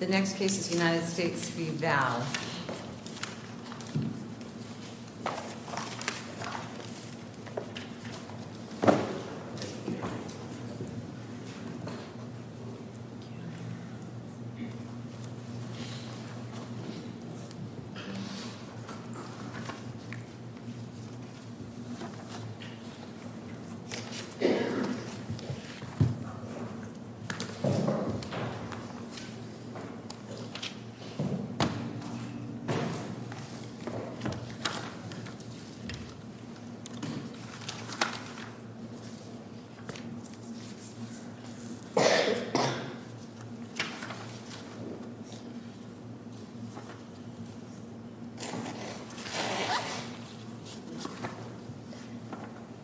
The next case is United States v. Valle.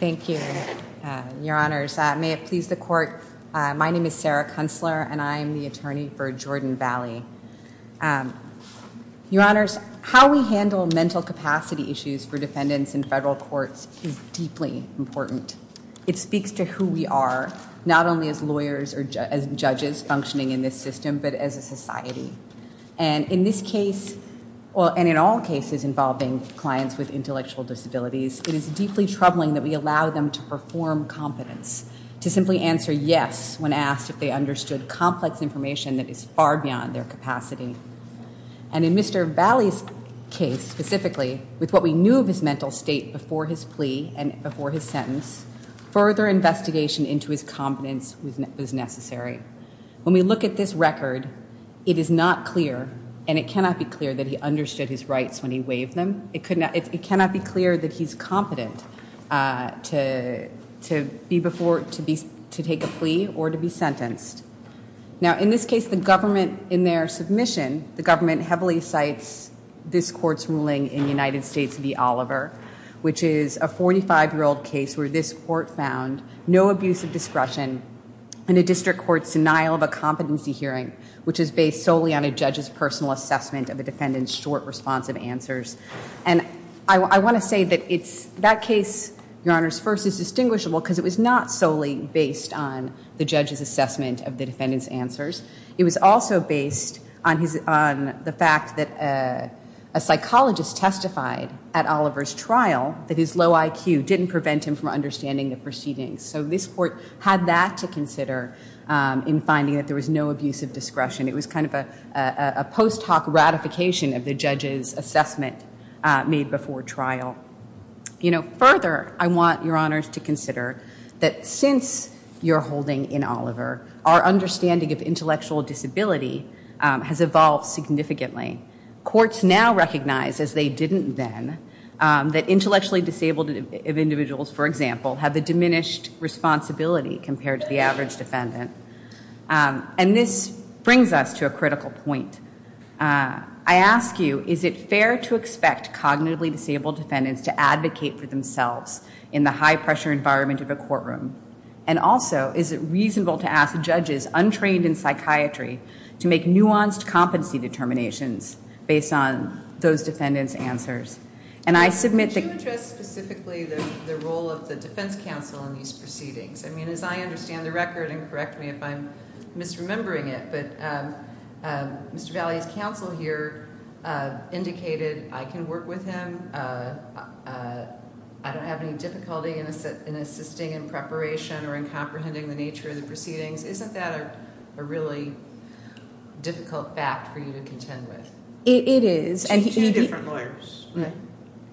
Thank you, your honors. May it please the court, my name is Sarah Kunstler and I'm the attorney for Jordan Valley. Your honors, how we handle mental capacity issues for defendants in federal courts is deeply important. It speaks to who we are, not only as lawyers or as judges functioning in this system, but as a society. And in this case, and in all cases involving clients with intellectual disabilities, it is deeply troubling that we allow them to perform competence, to simply answer yes when asked if they understood complex information that is far beyond their capacity. And in Mr. Valle's case, specifically, with what we knew of his mental state before his plea and before his sentence, further investigation into his competence was necessary. When we look at this record, it is not clear, and it cannot be clear that he understood his rights when he waived them. It cannot be clear that he's competent to be before, to take a plea or to be sentenced. Now, in this case, the government, in their submission, the government heavily cites this court's ruling in United States v. Oliver, which is a 45-year-old case where this court found no abuse of discretion in a district court's denial of a competency hearing, which is based solely on a judge's personal assessment of a defendant's short, responsive answers. And I want to say that it's, that case, Your Honors, first is distinguishable because it was not solely based on the judge's assessment of the defendant's answers. It was also based on the fact that a psychologist testified at Oliver's trial that his low IQ didn't prevent him from understanding the proceedings. So this court had that to consider in finding that there was no abuse of discretion. It was kind of a post hoc ratification of the judge's assessment made before trial. You know, further, I want Your Honors to consider that since your holding in Oliver, our understanding of intellectual disability has evolved significantly. Courts now recognize, as they didn't then, that intellectually disabled individuals, for example, have a diminished responsibility compared to the average defendant. And this brings us to a critical point. I ask you, is it fair to expect cognitively disabled defendants to advocate for themselves in the high-pressure environment of a courtroom? And also, is it reasonable to ask judges untrained in psychiatry to make nuanced competency determinations based on those defendants' answers? And I submit that- What is specifically the role of the defense counsel in these proceedings? I mean, as I understand the record, and correct me if I'm misremembering it, but Mr. Valley's counsel here indicated, I can work with him. I don't have any difficulty in assisting in preparation or in comprehending the nature of the proceedings. Isn't that a really difficult fact for you to contend with? It is. Two different lawyers.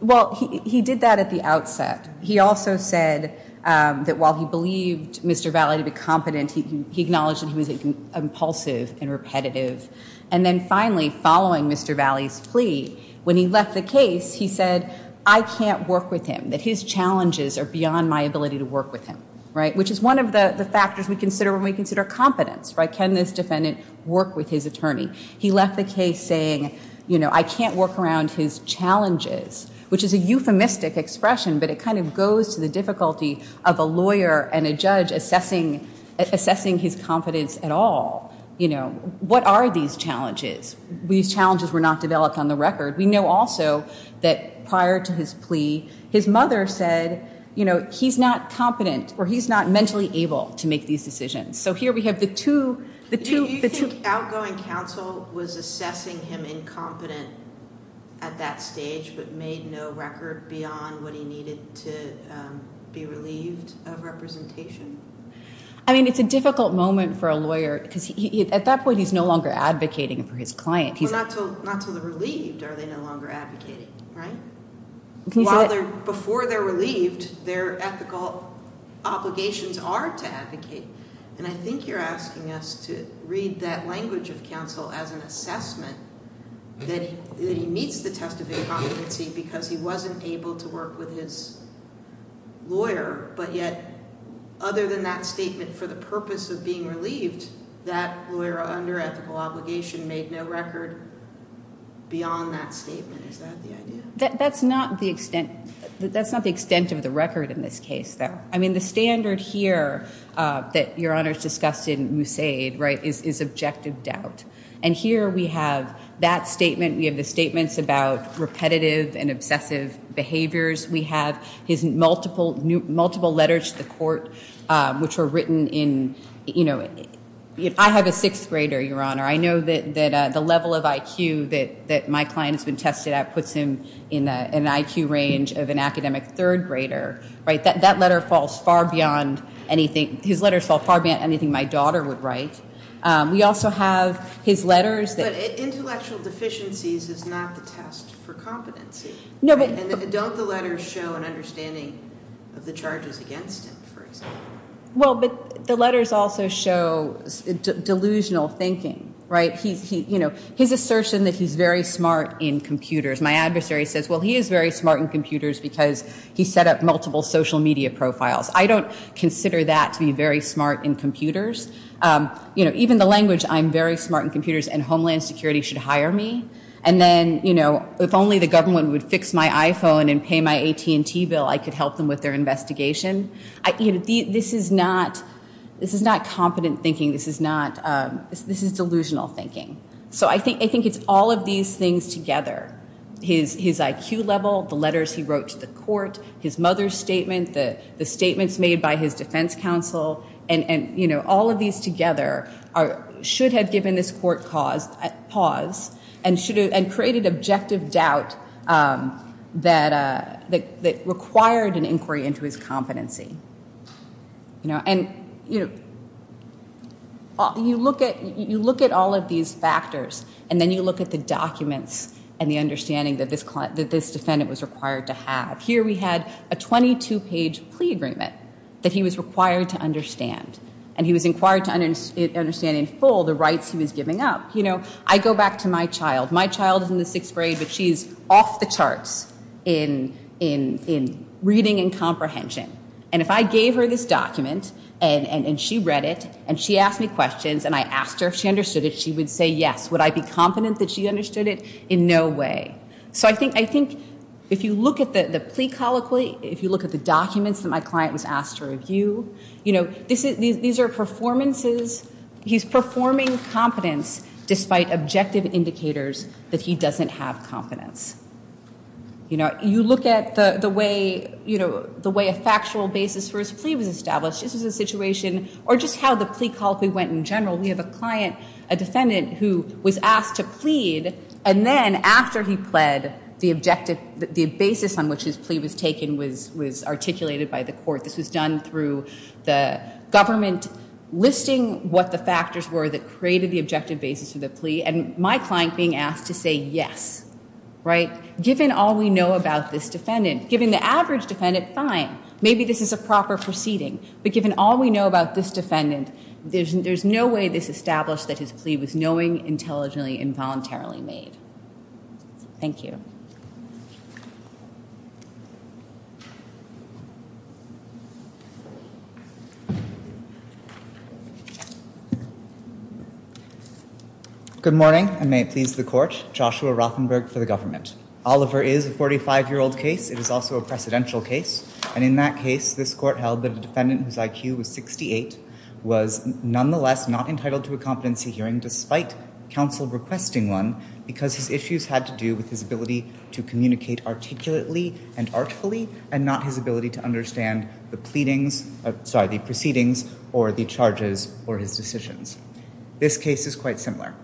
Well, he did that at the outset. He also said that while he believed Mr. Valley to be competent, he acknowledged that he was impulsive and repetitive. And then finally, following Mr. Valley's plea, when he left the case, he said, I can't work with him, that his challenges are beyond my ability to work with him, right? Which is one of the factors we consider when we consider competence, right? Can this defendant work with his attorney? He left the case saying, you know, I can't work around his challenges, which is a euphemistic expression, but it kind of goes to the difficulty of a lawyer and a judge assessing his competence at all. What are these challenges? These challenges were not developed on the record. We know also that prior to his plea, his mother said, you know, he's not competent or he's not mentally able to make these decisions. So here we have the two, the two, the two... He was incompetent at that stage, but made no record beyond what he needed to be relieved of representation. I mean, it's a difficult moment for a lawyer because at that point, he's no longer advocating for his client. Not until they're relieved are they no longer advocating, right? While they're, before they're relieved, their ethical obligations are to advocate. And I think you're asking us to read that language of counsel as an assessment that he meets the test of incompetency because he wasn't able to work with his lawyer. But yet, other than that statement for the purpose of being relieved, that lawyer under ethical obligation made no record beyond that statement. That's not the extent, that's not the extent of the record in this case, though. I mean, the standard here that Your Honor's discussed in Moussaid, right, is objective doubt. And here we have that statement, we have the statements about repetitive and obsessive behaviors, we have his multiple letters to the court, which were written in, you know... I have a sixth grader, Your Honor. I know that the level of IQ that my client's been tested at puts him in an IQ range of an academic third grader, right? That letter falls far beyond anything, his letters fall far beyond anything my daughter would write. We also have his letters that... But intellectual deficiencies is not the test for competency. No, but... And don't the letters show an understanding of the charges against him, for example? Well, but the letters also show delusional thinking, right? He's, you know, his assertion that he's very smart in computers. My adversary says, well, he is very smart in computers because he set up multiple social media profiles. I don't consider that to be very smart in computers. You know, even the language, I'm very smart in computers and Homeland Security should hire me. And then, you know, if only the government would fix my iPhone and pay my AT&T bill, I could help them with their investigation. You know, this is not, this is not competent thinking. This is not, this is delusional thinking. So I think it's all of these things together. His IQ level, the letters he wrote to the court, his mother's statement, the statements made by his defense counsel, and, you know, all of these together should have given this court pause and created objective doubt that required an inquiry into his competency. You know, and, you know, you look at, you look at all of these factors and then you look at the documents and the understanding that this client, that this defendant was required to have. Here we had a 22-page plea agreement that he was required to understand and he was inquired to understand in full the rights he was giving up. You know, I go back to my child. My child is in the sixth grade, but she's off the charts in reading and comprehension. And if I gave her this document and she read it and she asked me questions and I asked her if she understood it, she would say yes. Would I be confident that she understood it? In no way. So I think, I think if you look at the plea colloquy, if you look at the documents that my client was asked to review, you know, this is, these are performances, he's performing competence despite objective indicators that he doesn't have competence. You know, you look at the, the way, you know, the way a factual basis for his plea was established. This was a situation, or just how the plea colloquy went in general. We have a client, a defendant who was asked to plead and then after he pled, the objective, the basis on which his plea was taken was, was articulated by the court. This was done through the government listing what the factors were that created the objective basis for the plea and my client being asked to say yes, right? Given all we know about this defendant, given the average defendant, fine. Maybe this is a proper proceeding. But given all we know about this defendant, there's no way this established that his plea was knowing, intelligently and voluntarily made. Thank you. Good morning and may it please the court. Joshua Rothenberg for the government. Oliver is a 45-year-old case. It is also a precedential case. And in that case, this court held that a defendant whose IQ was 68 was nonetheless not entitled to a competency hearing despite counsel requesting one because his issues had to do with his ability to communicate articulately and artfully and not his ability to understand the proceedings or the charges or his decisions. This case is quite similar.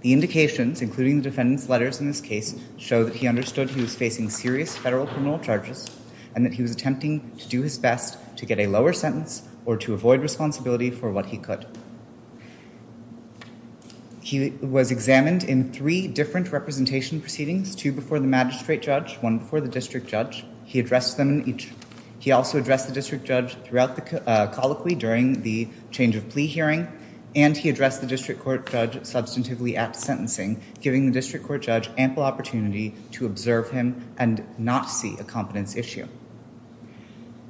The indications, including the defendant's letters in this case, show that he understood he was facing serious federal criminal charges and that he was attempting to do his best to get a lower sentence or to avoid responsibility for what he could. He was examined in three different representation proceedings, two before the magistrate judge, one before the district judge. He addressed them in each. He also addressed the district judge throughout the colloquy during the change of plea hearing and he addressed the district court judge substantively at sentencing, giving the district court judge ample opportunity to observe him and not see a competence issue.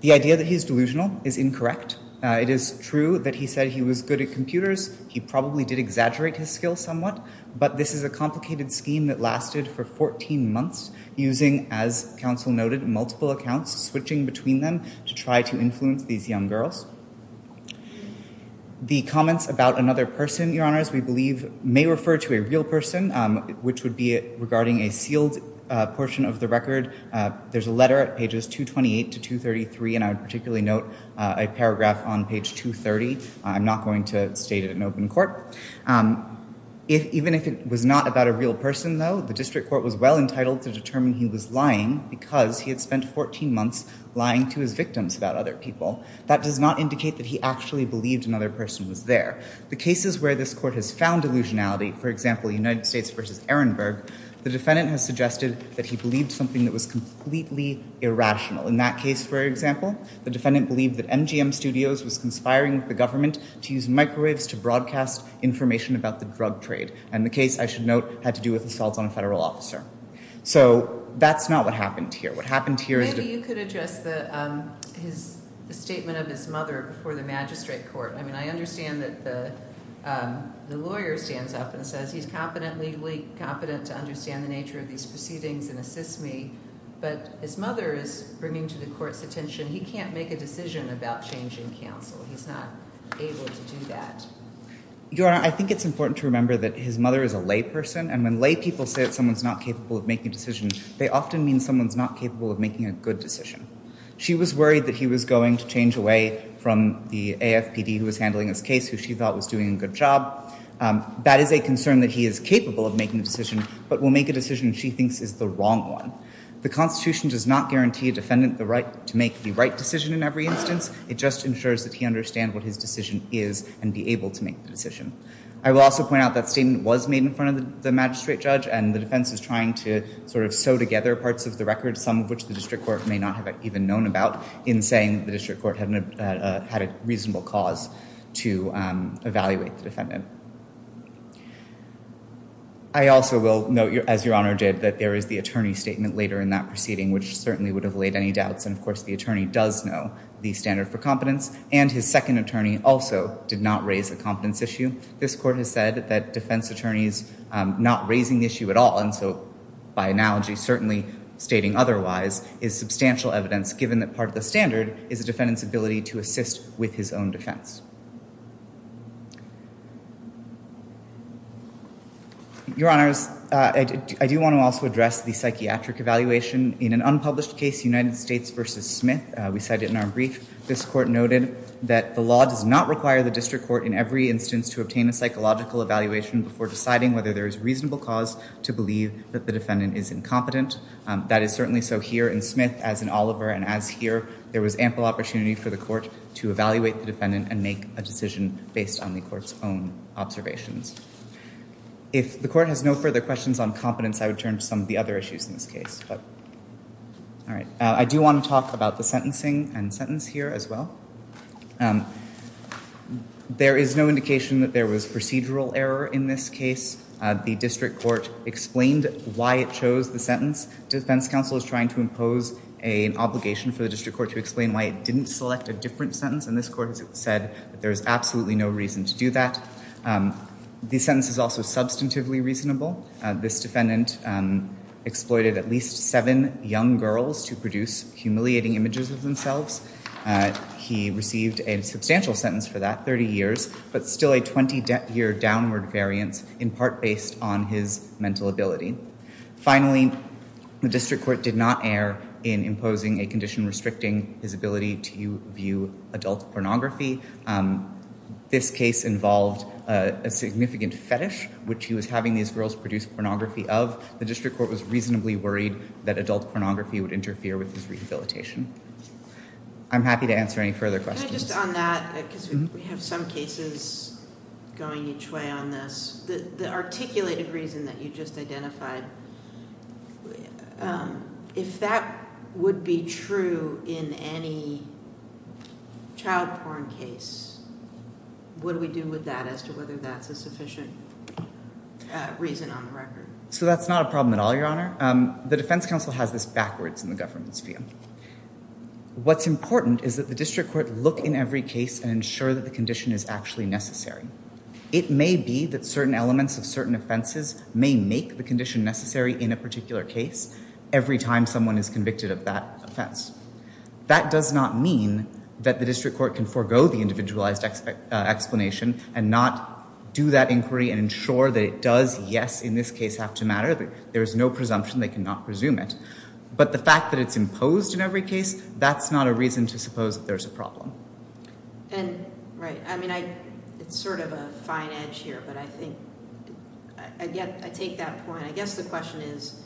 The idea that he's delusional is incorrect. It is true that he said he was good at computers. He probably did exaggerate his skills somewhat, but this is a complicated scheme that lasted for 14 months, using, as counsel noted, multiple accounts, switching between them to try to influence these young girls. The comments about another person, your honors, we believe may refer to a real person, which would be regarding a sealed portion of the record. There's a letter at pages 228 to 233, and I would particularly note a paragraph on page 230. I'm not going to state it in open court. Even if it was not about a real person, though, the district court was well entitled to determine he was lying because he had spent 14 months lying to his victims about other people. That does not indicate that he actually believed another person was there. The cases where this court has found illusionality, for example, United States v. Ehrenberg, the defendant has suggested that he believed something that was completely irrational. In that case, for example, the defendant believed that MGM Studios was conspiring with the government to use microwaves to broadcast information about the drug trade. And the case, I should note, had to do with assaults on a federal officer. So that's not what happened here. What happened here is that... Maybe you could address the statement of his mother before the magistrate court. I mean, I understand that the lawyer stands up and says he's competent, legally competent, to understand the nature of these proceedings and assist me, but his mother is bringing to the court's attention he can't make a decision about changing counsel. He's not able to do that. Your Honor, I think it's important to remember that his mother is a lay person, and when lay people say that someone's not capable of making a decision, they often mean someone's not capable of making a good decision. She was worried that he was going to change away from the AFPD who was handling his case, who she thought was doing a good job. That is a concern that he is capable of making a decision, but will make a decision she thinks is the wrong one. The Constitution does not guarantee a defendant the right to make the right decision in every instance. It just ensures that he understands what his decision is and be able to make the decision. I will also point out that statement was made in front of the magistrate judge, and the defense is trying to sort of sew together parts of the record, some of which the district court may not have even known about, in saying that the district court had a reasonable cause to evaluate the defendant. I also will note, as Your Honor did, that there is the attorney statement later in that proceeding, which certainly would have laid any doubts, and of course the attorney does know the standard for competence, and his second attorney also did not raise a competence issue. This court has said that defense attorneys not raising the issue at all, and so by analogy certainly stating otherwise, is substantial evidence given that part of the standard is the defendant's ability to assist with his own defense. Your Honors, I do want to also address the psychiatric evaluation. In an unpublished case, United States v. Smith, we cite it in our brief, this court noted that the law does not require the district court in every instance to obtain a psychological evaluation before deciding whether there is reasonable cause to believe that the defendant is incompetent. That is certainly so here in Smith, as in Oliver, and as here, there was ample opportunity for the court to evaluate the defendant and make a decision based on the court's own observations. If the court has no further questions on competence, I would turn to some of the other issues in this case. I do want to talk about the sentencing and sentence here as well. There is no indication that there was procedural error in this case. The district court explained why it chose the sentence. Defense counsel is trying to impose an obligation for the district court to explain why it didn't select a different sentence, and this court has said that there is absolutely no reason to do that. The sentence is also substantively reasonable. This defendant exploited at least seven young girls to produce humiliating images of themselves. He received a substantial sentence for that, 30 years, but still a 20-year downward variance, in part based on his mental ability. Finally, the district court did not err in imposing a condition restricting his ability to view adult pornography. This case involved a significant fetish, which he was having these girls produce pornography of. The district court was reasonably worried that adult pornography would interfere with his rehabilitation. I'm happy to answer any further questions. Can I just, on that, because we have some cases going each way on this, the articulated reason that you just identified, if that would be true in any child porn case, what do we do with that as to whether that's a sufficient reason on the record? So that's not a problem at all, Your Honor. The defense counsel has this backwards in the government's view. What's important is that the district court look in every case and ensure that the condition is actually necessary. It may be that certain elements of certain offenses may make the condition necessary in a particular case every time someone is convicted of that offense. That does not mean that the district court can forgo the individualized explanation and not do that inquiry and ensure that it does, yes, in this case, have to matter. There is no presumption. They cannot presume it. But the fact that it's imposed in every case, that's not a reason to suppose that there's a problem. Right. I mean, it's sort of a fine edge here, but I think... I take that point. I guess the question is,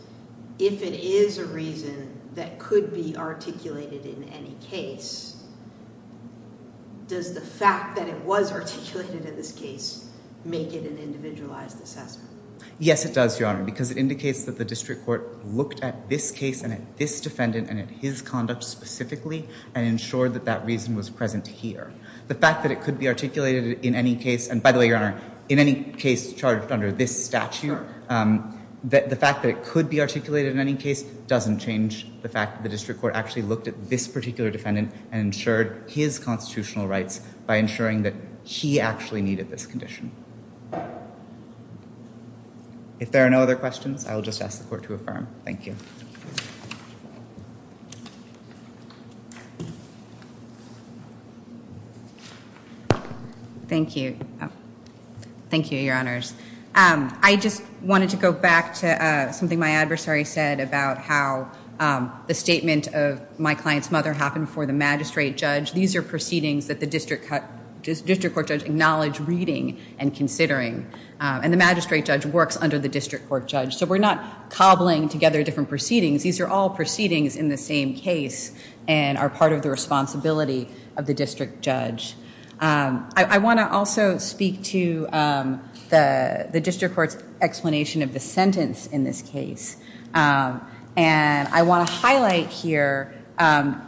if it is a reason that could be articulated in any case, does the fact that it was articulated in this case make it an individualized assessment? Yes, it does, Your Honor, because it indicates that the district court looked at this case and at this defendant and at his conduct specifically and ensured that that reason was present here. The fact that it could be articulated in any case... and by the way, Your Honor, in any case charged under this statute, the fact that it could be articulated in any case doesn't change the fact that the district court actually looked at this particular defendant and ensured his constitutional rights by ensuring that he actually needed this condition. If there are no other questions, I will just ask the court to affirm. Thank you. Thank you. Thank you, Your Honors. I just wanted to go back to something my adversary said about how the statement of my client's mother happened before the magistrate judge. These are proceedings that the district court judge acknowledged reading and considering, and the magistrate judge works under the district court judge, so we're not cobbling together different proceedings. These are all proceedings in the same case and are part of the responsibility of the district judge. I want to also speak to the district court's explanation of the sentence in this case. I want to highlight here, there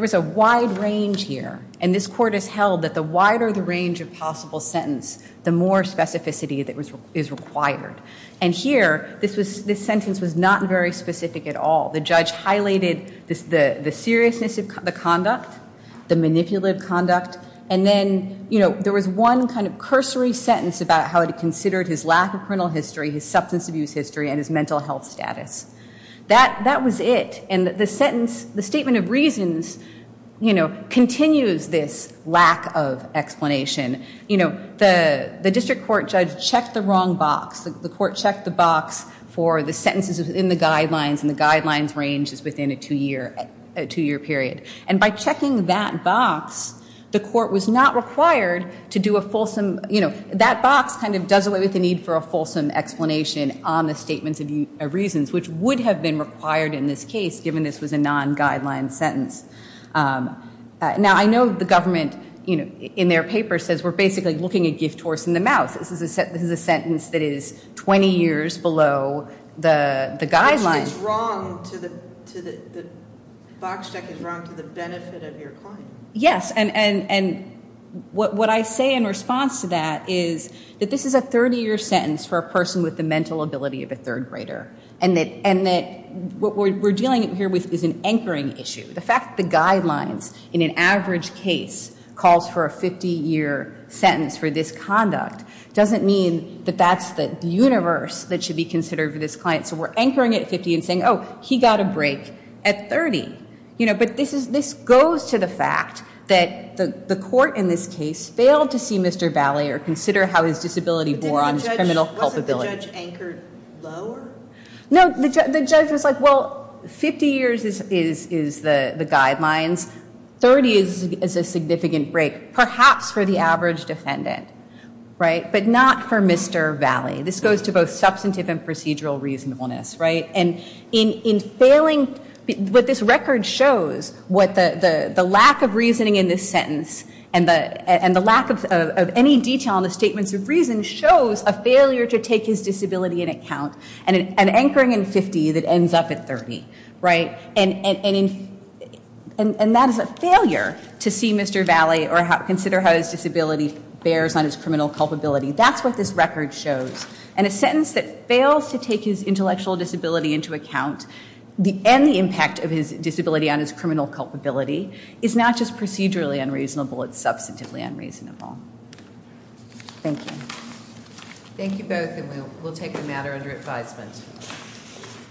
was a wide range here, and this court has held that the wider the range of possible sentence, the more specificity that is required. Here, this sentence was not very specific at all. The judge highlighted the seriousness of the conduct, the manipulative conduct, and then there was one cursory sentence about how it considered his lack of criminal history, his substance abuse history, and his mental health status. That was it, and the sentence, the statement of reasons, continues this lack of explanation. The district court judge checked the wrong box. The court checked the box for the sentences within the guidelines, and the guidelines range is within a two-year period, and by checking that box, the court was not required to do a fulsome, you know, that box kind of does away with the need for a fulsome explanation on the statements of reasons, which would have been required in this case, given this was a non-guideline sentence. Now, I know the government, you know, in their paper says we're basically looking a gift horse in the mouth. This is a sentence that is 20 years below the guidelines. Yes, and what I say in response to that is that this is a 30-year sentence for a person with the mental ability of a third grader, and that what we're dealing here with is an anchoring issue. The fact the guidelines in an average case calls for a 50-year sentence for this conduct doesn't mean that that's the universe that should be considered for this client, so we're anchoring at 50 and saying, oh, he got a break at 30, you know, but this goes to the fact that the court in this case failed to see Mr. Valle or consider how his disability bore on his criminal culpability. No, the judge was like, well, 50 years is the guidelines. 30 is a significant break, perhaps for the average defendant, right, but not for Mr. Valle. This goes to both substantive and procedural reasonableness, right, and in failing, what this record shows, what the lack of reasoning in this sentence and the lack of any detail in the statements of reason shows a failure to take his disability in account and an anchoring in 50 that ends up at 30, right, and that is a failure to see Mr. Valle or consider how his disability bears on his criminal culpability. That's what this record shows, and a sentence that fails to take his intellectual disability into account and the impact of his disability on his criminal culpability is not just procedurally unreasonable, it's substantively unreasonable. Thank you. Thank you both, and we'll take the matter under advisement.